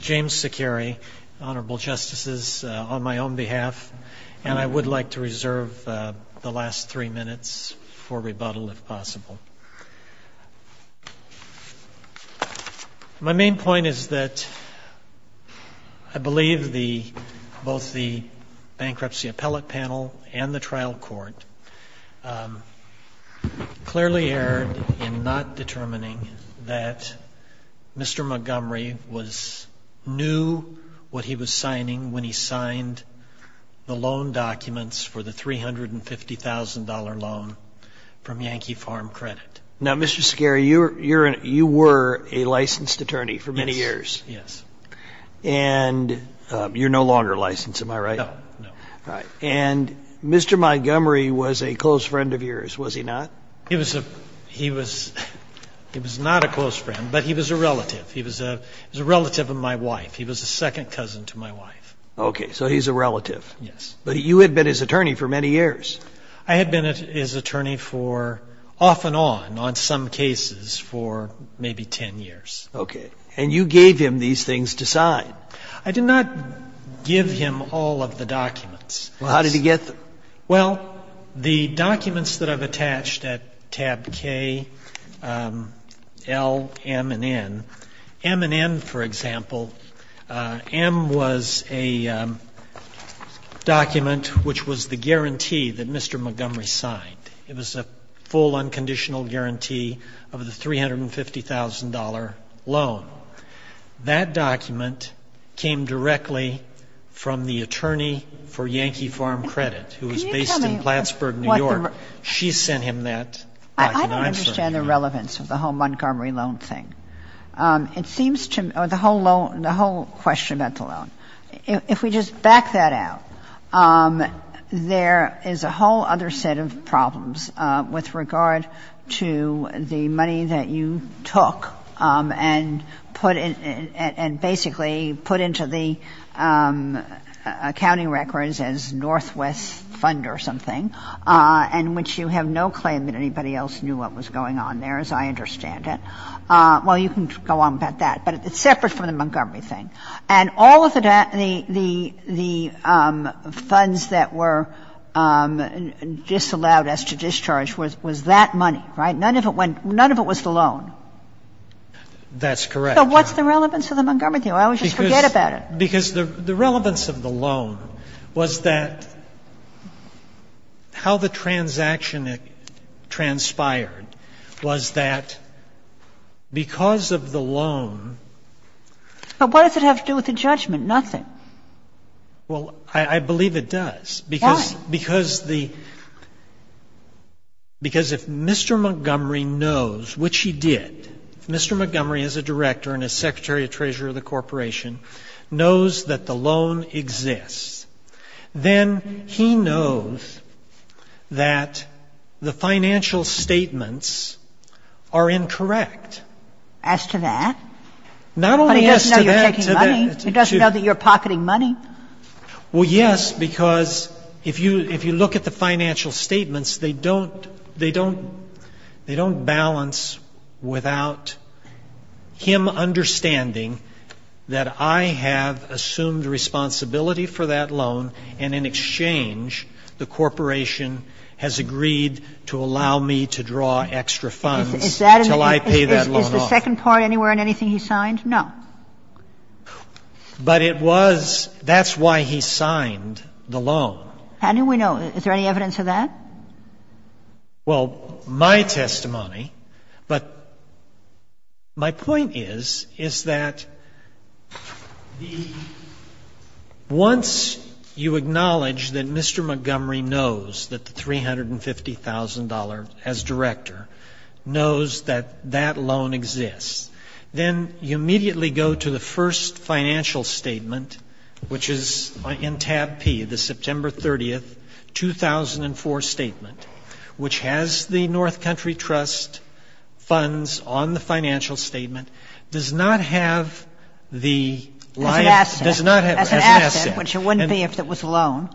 James Saccheri, Honorable Justices, on my own behalf, and I would like to reserve the last three minutes for rebuttal if possible. My main point is that I believe both the bankruptcy appellate panel and the trial court clearly erred in not determining that Mr. Montgomery knew what he was signing when he signed the loan documents for the $350,000 loan from Yankee Farm Credit. Now, Mr. Saccheri, you were a licensed attorney for many years. Yes, yes. And you're no longer licensed, am I right? No, no. And Mr. Montgomery was a close friend of yours, was he not? He was not a close friend, but he was a relative. He was a relative of my wife. He was a second cousin to my wife. Okay, so he's a relative. Yes. But you had been his attorney for many years. I had been his attorney for off and on, on some cases, for maybe 10 years. Okay. And you gave him these things to sign. I did not give him all of the documents. Well, how did he get them? Well, the documents that I've attached at tab K, L, M, and N. M and N, for example, M was a document which was the guarantee that Mr. Montgomery signed. It was a full unconditional guarantee of the $350,000 loan. That document came directly from the attorney for Yankee Farm Credit, who was based in Plattsburgh, New York. She sent him that document. I don't understand the relevance of the whole Montgomery loan thing. It seems to me the whole question about the loan, if we just back that out, there is a whole other set of problems with regard to the money that you took and basically put into the accounting records as Northwest Fund or something, in which you have no claim that anybody else knew what was going on there, as I understand it. Well, you can go on about that, but it's separate from the Montgomery thing. And all of the funds that were disallowed as to discharge was that money, right? None of it was the loan. That's correct. So what's the relevance of the Montgomery thing? I always just forget about it. Because the relevance of the loan was that how the transaction transpired was that because of the loan. But what does it have to do with the judgment? Nothing. Well, I believe it does. Why? Because the — because if Mr. Montgomery knows, which he did, if Mr. Montgomery as a director and as secretary of treasury of the corporation knows that the loan exists, then he knows that the financial statements are incorrect. As to that? Not only as to that. But he doesn't know you're taking money. He doesn't know that you're pocketing money. Well, yes, because if you look at the financial statements, they don't balance without him understanding that I have assumed responsibility for that loan and in exchange the corporation has agreed to allow me to draw extra funds until I pay that loan off. Is the second part anywhere in anything he signed? No. But it was — that's why he signed the loan. How do we know? Is there any evidence of that? Well, my testimony, but my point is, is that once you acknowledge that Mr. Montgomery knows that the $350,000, as director, knows that that loan exists, then you immediately go to the first financial statement, which is in tab P, the September 30th, 2004 statement, which has the North Country Trust funds on the financial statement, does not have the line of — As an asset. As an asset. Which it wouldn't be if it was a loan.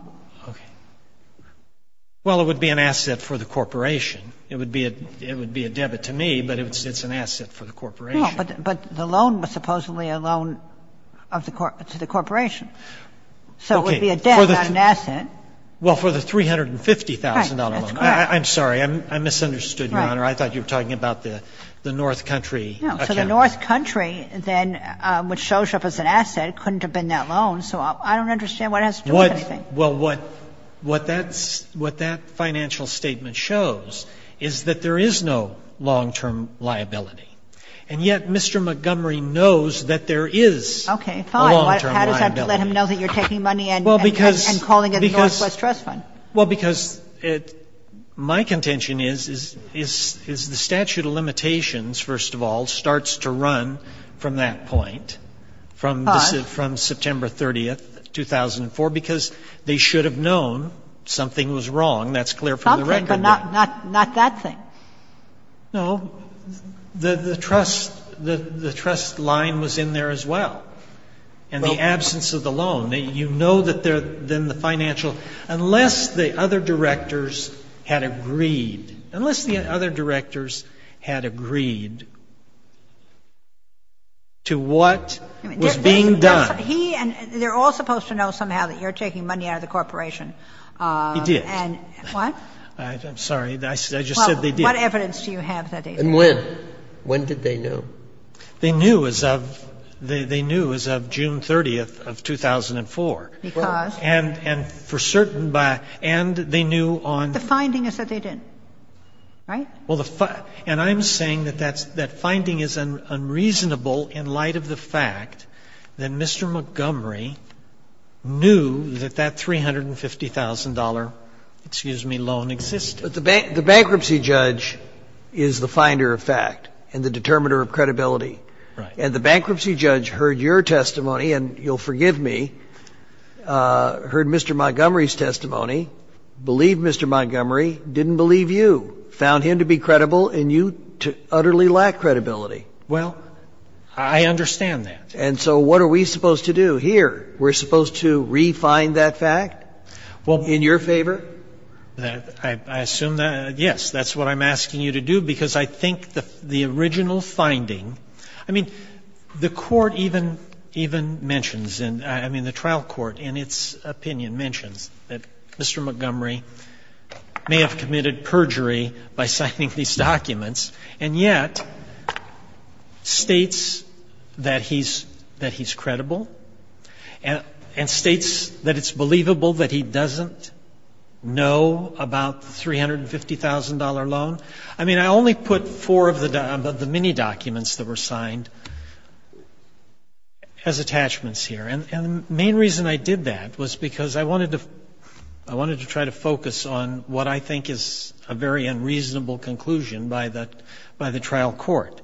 Okay. Well, it would be an asset for the corporation. It would be a debit to me, but it's an asset for the corporation. No, but the loan was supposedly a loan to the corporation. Okay. So it would be a debt, not an asset. Well, for the $350,000 loan. That's correct. I'm sorry. I misunderstood, Your Honor. I thought you were talking about the North Country account. No. So the North Country then, which shows up as an asset, couldn't have been that loan. So I don't understand what it has to do with anything. Well, what that financial statement shows is that there is no long-term liability. And yet Mr. Montgomery knows that there is a long-term liability. Okay. Fine. How does that let him know that you're taking money and calling it a Northwest Trust fund? Well, because my contention is, is the statute of limitations, first of all, starts to run from that point, from September 30th, 2004, because they should have known something was wrong. That's clear from the record. Something, but not that thing. No. The trust line was in there as well. And the absence of the loan, you know that then the financial, unless the other directors had agreed, unless the other directors had agreed to what was being done. They're all supposed to know somehow that you're taking money out of the corporation. He did. What? I'm sorry. I just said they did. Well, what evidence do you have that they did? And when? When did they know? They knew as of, they knew as of June 30th of 2004. Because? And for certain by, and they knew on. The finding is that they didn't. Right? Well, the, and I'm saying that that's, that finding is unreasonable in light of the fact that Mr. Montgomery knew that that $350,000, excuse me, loan existed. But the bankruptcy judge is the finder of fact and the determiner of credibility. Right. And the bankruptcy judge heard your testimony, and you'll forgive me, heard Mr. Montgomery's testimony, believed Mr. Montgomery, didn't believe you, found him to be credible and you to utterly lack credibility. Well, I understand that. And so what are we supposed to do here? We're supposed to re-find that fact? Well. In your favor? I assume that, yes, that's what I'm asking you to do, because I think the original finding, I mean, the Court even, even mentions, I mean, the trial court in its opinion mentions that Mr. Montgomery may have committed perjury by signing these documents and yet states that he's, that he's credible and states that it's believable that he doesn't know about the $350,000 loan. I mean, I only put four of the many documents that were signed as attachments here. And the main reason I did that was because I wanted to, I wanted to try to focus on what I think is a very unreasonable conclusion by the, by the trial court.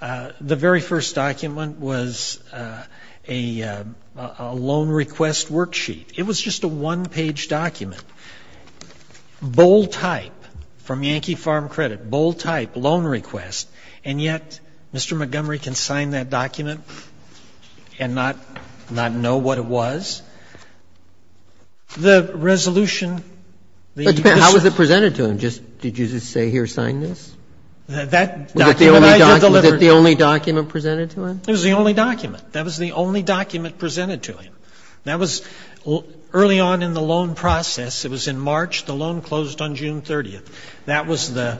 The very first document was a loan request worksheet. It was just a one-page document. Bold type, from Yankee Farm Credit, bold type, loan request, and yet Mr. Montgomery can sign that document and not, not know what it was? The resolution, the justice. But how was it presented to him? Just, did you just say here, sign this? That document I just delivered. Was it the only document presented to him? It was the only document. That was the only document presented to him. That was early on in the loan process. It was in March. The loan closed on June 30th. That was the,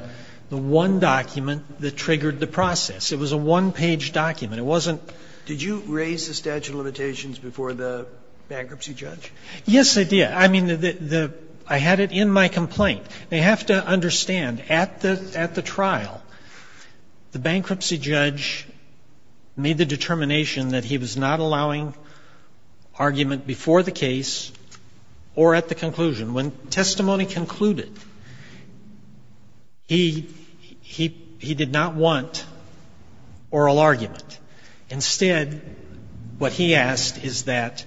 the one document that triggered the process. It was a one-page document. It wasn't. Did you raise the statute of limitations before the bankruptcy judge? Yes, I did. I mean, the, the, I had it in my complaint. They have to understand, at the, at the trial, the bankruptcy judge made the argument before the case or at the conclusion. When testimony concluded, he, he, he did not want oral argument. Instead, what he asked is that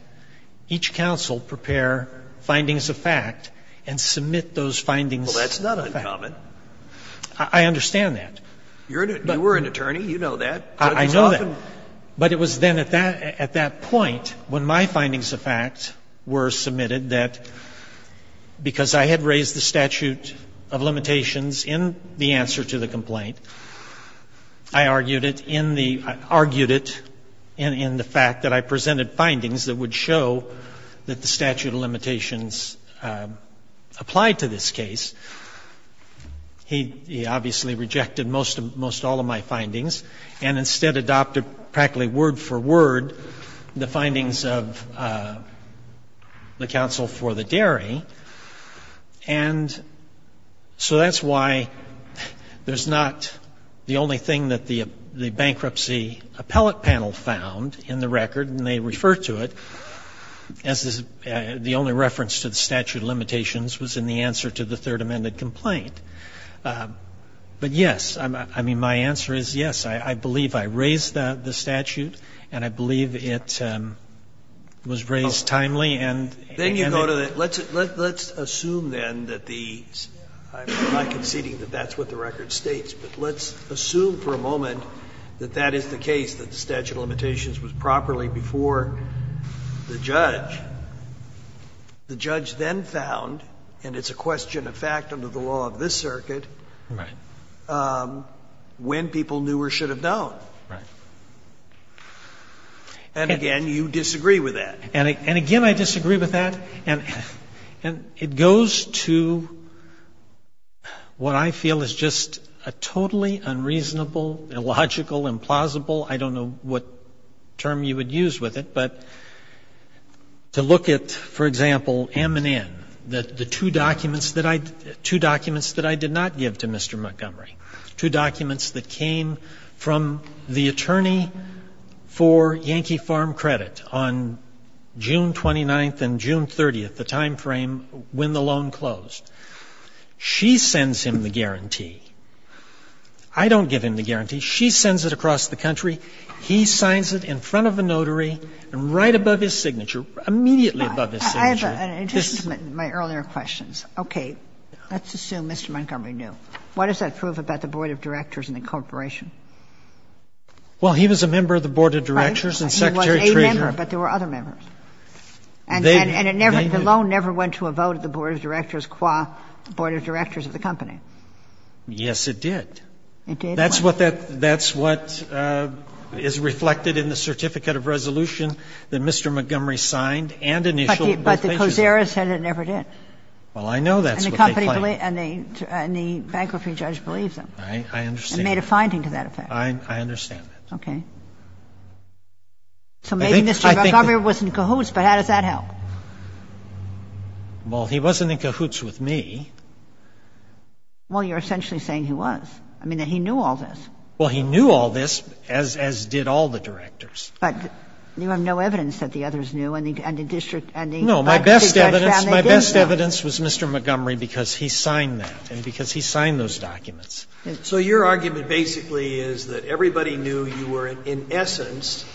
each counsel prepare findings of fact and submit those findings of fact. Well, that's not uncommon. I understand that. You were an attorney. You know that. I know that. But it was then at that, at that point when my findings of fact were submitted that because I had raised the statute of limitations in the answer to the complaint, I argued it in the, argued it in, in the fact that I presented findings that would show that the statute of limitations applied to this case. He, he obviously rejected most of, most all of my findings and instead adopted practically word for word the findings of the counsel for the dairy. And so that's why there's not the only thing that the bankruptcy appellate panel found in the record, and they refer to it as the only reference to the statute of limitations was in the answer to the third amended complaint. But yes, I mean, my answer is yes. I believe I raised the statute and I believe it was raised timely and, and it. Then you go to the, let's, let's assume then that the, I'm not conceding that that's what the record states, but let's assume for a moment that that is the case that the statute of limitations was properly before the judge. The judge then found, and it's a question of fact under the law of this circuit. Right. And the judge then found that the statute of limitations was properly before the judge when people knew or should have known. Right. And again, you disagree with that. And again, I disagree with that. And it goes to what I feel is just a totally unreasonable, illogical, implausible I don't know what term you would use with it, but to look at, for example, M&N, the two documents that I, two documents that I did not give to Mr. Montgomery, two documents that came from the attorney for Yankee Farm Credit on June 29th and June 30th, the time frame when the loan closed. She sends him the guarantee. I don't give him the guarantee. She sends it across the country. He signs it in front of a notary and right above his signature, immediately above his signature. I have an addition to my earlier questions. Okay. Let's assume Mr. Montgomery knew. What does that prove about the board of directors and the corporation? Well, he was a member of the board of directors and secretary treasurer. He was a member, but there were other members. They knew. And the loan never went to a vote of the board of directors qua board of directors of the company. Yes, it did. It did? That's what is reflected in the certificate of resolution that Mr. Montgomery signed and initialed. But the COSERA said it never did. Well, I know that's what they claimed. And the bankruptcy judge believed them. I understand. And made a finding to that effect. I understand that. Okay. So maybe Mr. Montgomery was in cahoots, but how does that help? Well, he wasn't in cahoots with me. Well, you're essentially saying he was. I mean, that he knew all this. Well, he knew all this, as did all the directors. But you have no evidence that the others knew and the district and the bankruptcy judge found they did know. No. My best evidence was Mr. Montgomery because he signed that and because he signed those documents. So your argument basically is that everybody knew you were, in essence,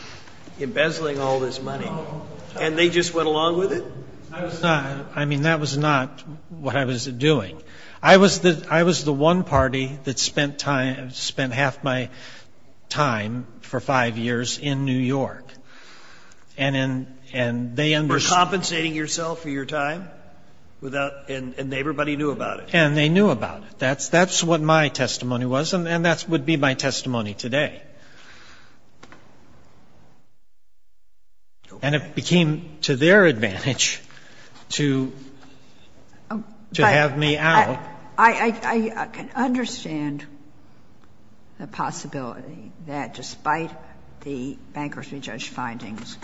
embezzling all this money, and they just went along with it? I was not. I mean, that was not what I was doing. I was the one party that spent half my time for five years in New York. And they understood. You were compensating yourself for your time? And everybody knew about it? And they knew about it. That's what my testimony was, and that would be my testimony today. And it became to their advantage to have me out. I can understand the possibility that despite the bankruptcy judge findings,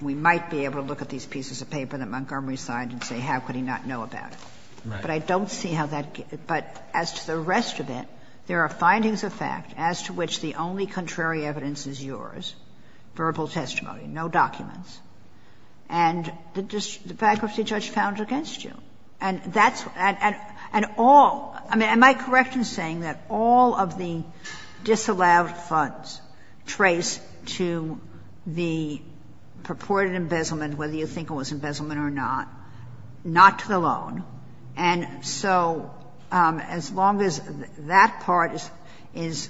we might be able to look at these pieces of paper that Montgomery signed and say, how could he not know about it? Right. But I don't see how that gets you. But as to the rest of it, there are findings of fact as to which the only contrary evidence is yours, verbal testimony, no documents. And the bankruptcy judge found it against you. And that's and all, I mean, am I correct in saying that all of the disallowed funds trace to the purported embezzlement, whether you think it was embezzlement or not, not to the loan. And so as long as that part is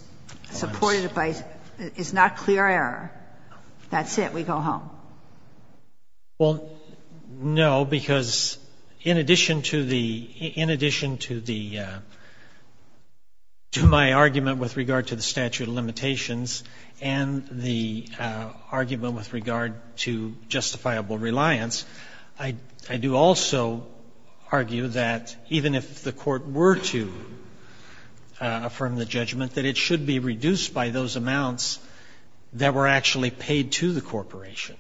supported by — is not clear error, that's it. We go home. Well, no, because in addition to the — in addition to the — to my argument with regard to the statute of limitations and the argument with regard to justifiable reliance, I do also argue that even if the court were to affirm the judgment, that it should be reduced by those amounts that were actually paid to the corporation.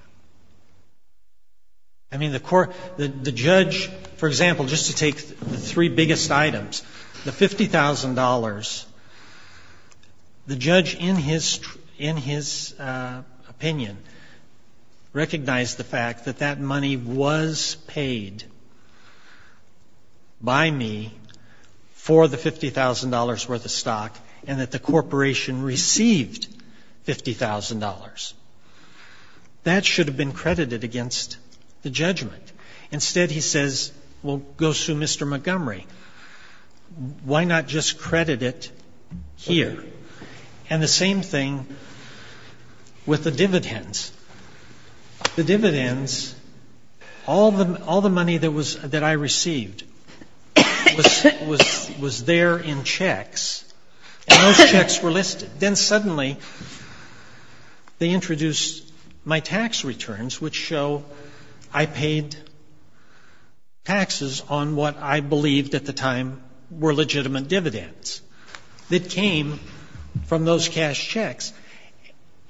I mean, the court — the judge, for example, just to take the three biggest items, the $50,000, the judge in his opinion recognized the fact that that money was paid by me for the $50,000 worth of stock and that the corporation received $50,000. That should have been credited against the judgment. Instead, he says, well, go sue Mr. Montgomery. Why not just credit it here? And the same thing with the dividends. The dividends, all the money that was — that I received was there in checks, and those checks were listed. Then suddenly they introduced my tax returns, which show I paid taxes on what I believed at the time were legitimate dividends that came from those cash checks.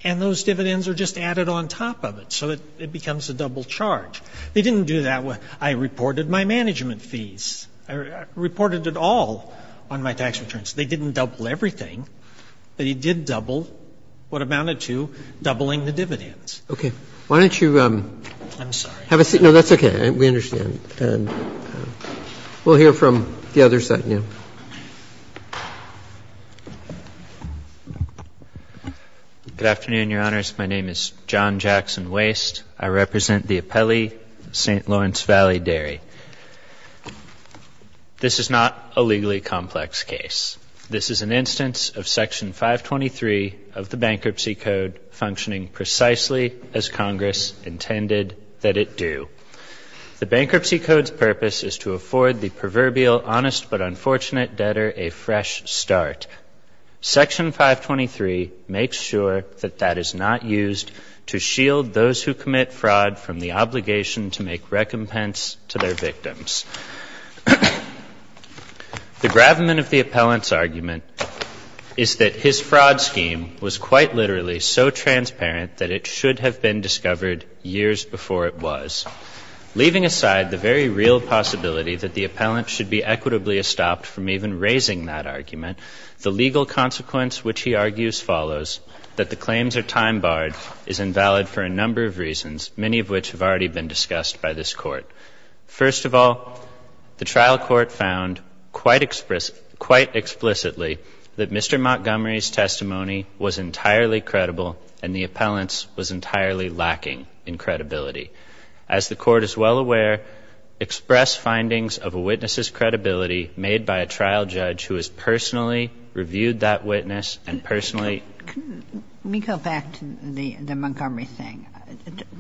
And those dividends are just added on top of it, so it becomes a double charge. They didn't do that. I reported my management fees. I reported it all on my tax returns. They didn't double everything, but it did double what amounted to doubling the dividends. Roberts. Okay. Why don't you have a seat? I'm sorry. No, that's okay. We understand. We'll hear from the other side now. Good afternoon, Your Honors. My name is John Jackson Waste. I represent the Appelli St. Lawrence Valley Dairy. This is not a legally complex case. This is an instance of Section 523 of the Bankruptcy Code functioning precisely as Congress intended that it do. The Bankruptcy Code's purpose is to afford the proverbial honest but unfortunate debtor a fresh start. Section 523 makes sure that that is not used to shield those who commit fraud from the obligation to make recompense to their victims. The gravamen of the appellant's argument is that his fraud scheme was quite literally so transparent that it should have been discovered years before it was. Leaving aside the very real possibility that the appellant should be equitably estopped from even raising that argument, the legal consequence which he argues follows that the claims are time-barred is invalid for a number of reasons, many of which have already been discussed by this Court. First of all, the trial court found quite explicitly that Mr. Montgomery's testimony was entirely credible and the appellant's was entirely lacking in credibility. As the Court is well aware, express findings of a witness's credibility made by a trial judge who has personally reviewed that witness and personally. Ginsburg. Let me go back to the Montgomery thing.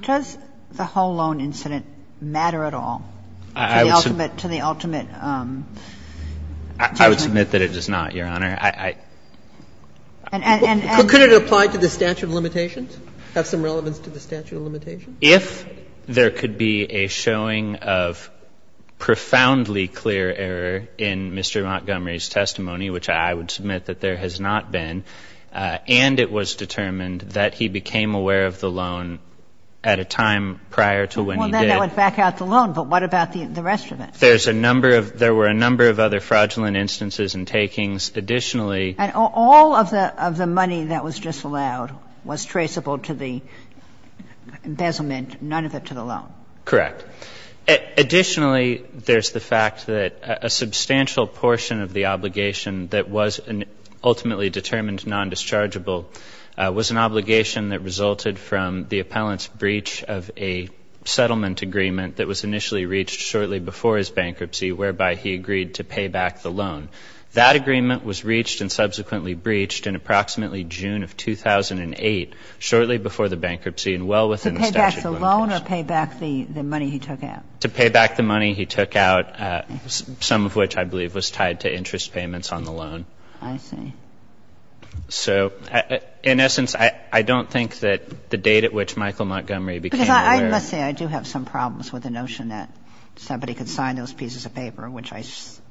Does the whole loan incident matter at all to the ultimate, to the ultimate? I would submit that it does not, Your Honor. I, I, I. And, and, and. Could it apply to the statute of limitations? Have some relevance to the statute of limitations? If there could be a showing of profoundly clear error in Mr. Montgomery's testimony, which I would submit that there has not been, and it was determined that he became aware of the loan at a time prior to when he did. Well, then that would back out the loan, but what about the rest of it? There's a number of, there were a number of other fraudulent instances and takings. Additionally. And all of the, of the money that was disallowed was traceable to the embezzlement, none of it to the loan. Correct. Additionally, there's the fact that a substantial portion of the obligation that was ultimately determined non-dischargeable was an obligation that resulted from the appellant's breach of a settlement agreement that was initially reached shortly before his bankruptcy, whereby he agreed to pay back the loan. That agreement was reached and subsequently breached in approximately June of 2008, shortly before the bankruptcy and well within the statute of limitations. To pay back the loan or pay back the money he took out? To pay back the money he took out, some of which I believe was tied to interest payments on the loan. I see. So in essence, I don't think that the date at which Michael Montgomery became aware. Because I must say I do have some problems with the notion that somebody could sign those pieces of paper, which I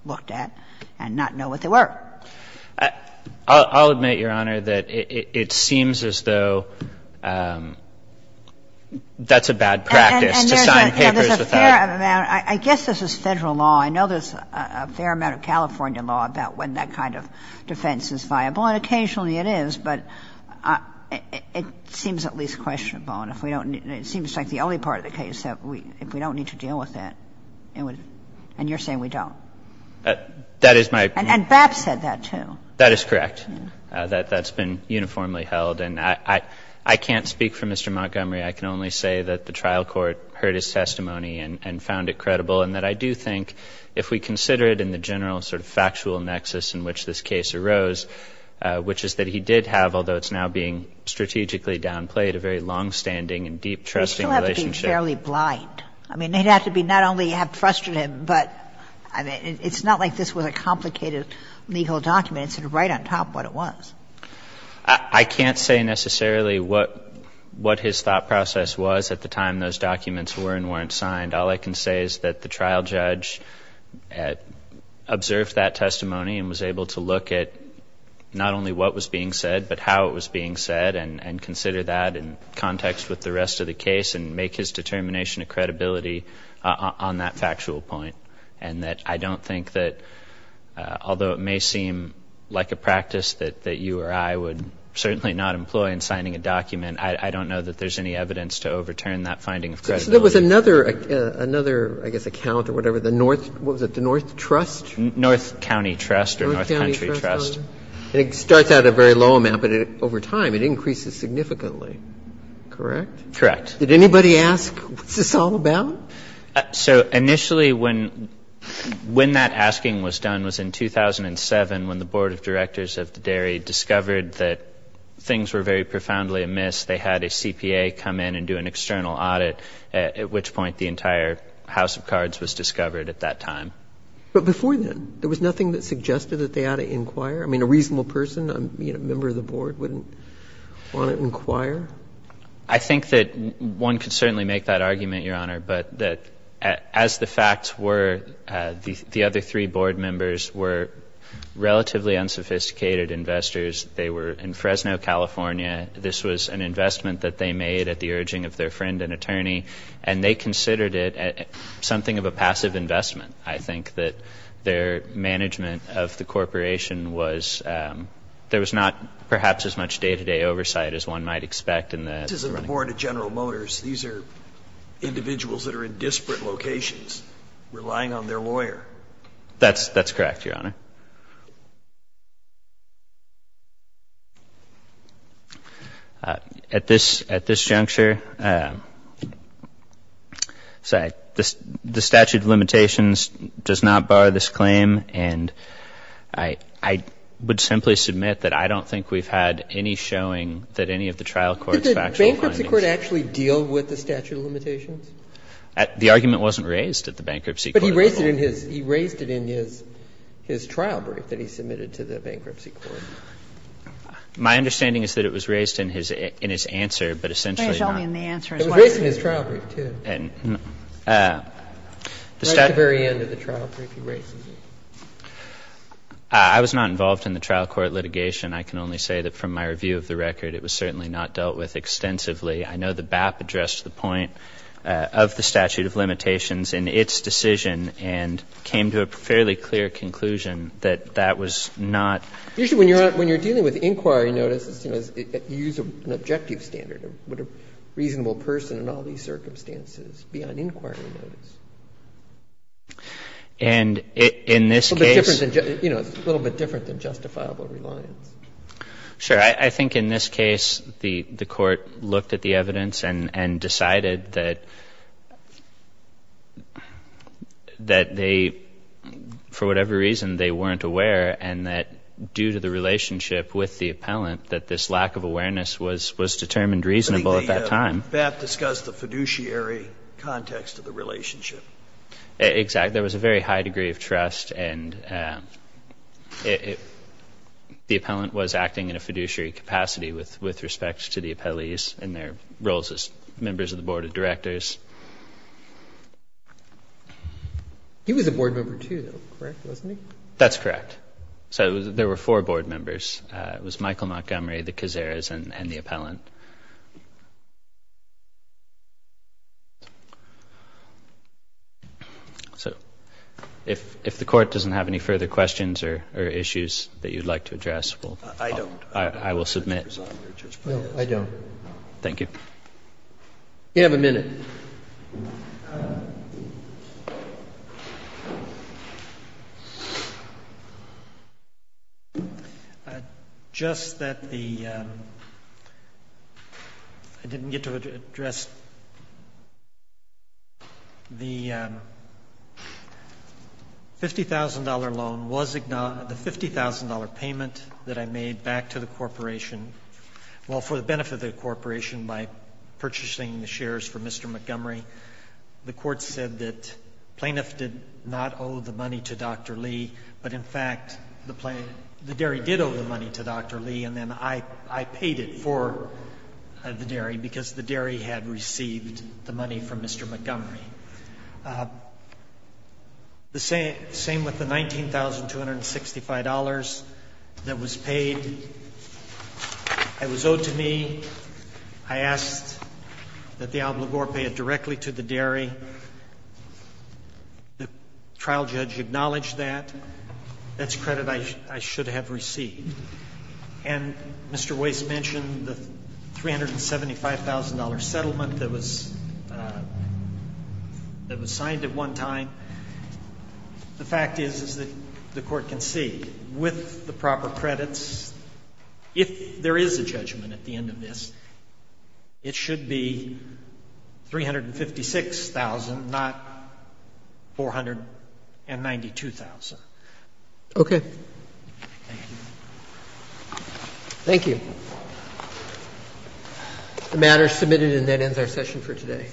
looked at, and not know what they were. I'll admit, Your Honor, that it seems as though that's a bad practice to sign papers without. And there's a fair amount. I guess this is Federal law. I know there's a fair amount of California law about when that kind of defense is viable, and occasionally it is, but it seems at least questionable. And if we don't need to deal with that, and you're saying we don't. And BAP said that, too. That is correct. That's been uniformly held. And I can't speak for Mr. Montgomery. I can only say that the trial court heard his testimony and found it credible and that I do think if we consider it in the general sort of factual nexus in which this case arose, which is that he did have, although it's now being strategically downplayed, a very longstanding and deep trusting relationship. You still have to be fairly blind. I mean, they'd have to be not only frustrated, but it's not like this was a complicated legal document. It's sort of right on top of what it was. I can't say necessarily what his thought process was at the time those documents were and weren't signed. All I can say is that the trial judge observed that testimony and was able to look at not only what was being said, but how it was being said, and consider that in context with the rest of the case and make his determination of credibility on that factual point. And that I don't think that, although it may seem like a practice that you or I would certainly not employ in signing a document, I don't know that there's any evidence to overturn that finding of credibility. So there was another, I guess, account or whatever, the North, what was it, the North Trust? North County Trust or North Country Trust. It starts at a very low amount, but over time it increases significantly. Correct? Correct. Did anybody ask, what's this all about? So initially when that asking was done was in 2007 when the Board of Directors of the Dairy discovered that things were very profoundly amiss. They had a CPA come in and do an external audit, at which point the entire House of Cards was discovered at that time. But before then, there was nothing that suggested that they ought to inquire? I mean, a reasonable person, a member of the Board, wouldn't want to inquire? I think that one could certainly make that argument, Your Honor, but that as the facts were, the other three Board members were relatively unsophisticated investors. They were in Fresno, California. This was an investment that they made at the urging of their friend and attorney, and they considered it something of a passive investment. I think that their management of the corporation was, there was not perhaps as much day-to-day oversight as one might expect. This isn't the Board of General Motors. These are individuals that are in disparate locations relying on their lawyer. That's correct, Your Honor. At this juncture, the statute of limitations does not bar this claim, and I would simply submit that I don't think we've had any showing that any of the trial courts have actual findings. Did the bankruptcy court actually deal with the statute of limitations? The argument wasn't raised at the bankruptcy court at all. He raised it in his trial brief that he submitted to the bankruptcy court. My understanding is that it was raised in his answer, but essentially not. It was raised in his trial brief, too. Right at the very end of the trial brief, he raises it. I was not involved in the trial court litigation. I can only say that from my review of the record, it was certainly not dealt with extensively. I know the BAP addressed the point of the statute of limitations in its decision and came to a fairly clear conclusion that that was not. Usually when you're dealing with inquiry notices, you use an objective standard. Would a reasonable person in all these circumstances be on inquiry notice? And in this case It's a little bit different than justifiable reliance. Sure. I think in this case the court looked at the evidence and decided that they, for whatever reason, they weren't aware and that due to the relationship with the appellant that this lack of awareness was determined reasonable at that time. I think the BAP discussed the fiduciary context of the relationship. Exactly. There was a very high degree of trust and the appellant was acting in a fiduciary capacity with respect to the appellees and their roles as members of the board of directors. He was a board member, too, though, correct? Wasn't he? That's correct. So there were four board members. It was Michael Montgomery, the Cazares, and the appellant. So if the court doesn't have any further questions or issues that you'd like to address, we'll move on. I don't. I will submit. No, I don't. Thank you. You have a minute. Just that the — I didn't get to address the $50,000 loan. The $50,000 payment that I made back to the corporation, well, for the benefit of the corporation by purchasing the shares for Mr. Montgomery, the court said that plaintiff did not owe the money to Dr. Lee, but, in fact, the dairy did owe the money to Dr. Lee, and then I paid it for the dairy because the dairy had received the money from Mr. Montgomery. The same with the $19,265 that was paid. It was owed to me. I asked that the obligor pay it directly to the dairy. The trial judge acknowledged that. That's credit I should have received. And Mr. Weiss mentioned the $375,000 settlement that was signed at one time. The fact is, as the Court can see, with the proper credits, if there is a judgment at the end of this, it should be $356,000, not $492,000. Okay. Thank you. The matter is submitted, and that ends our session for today.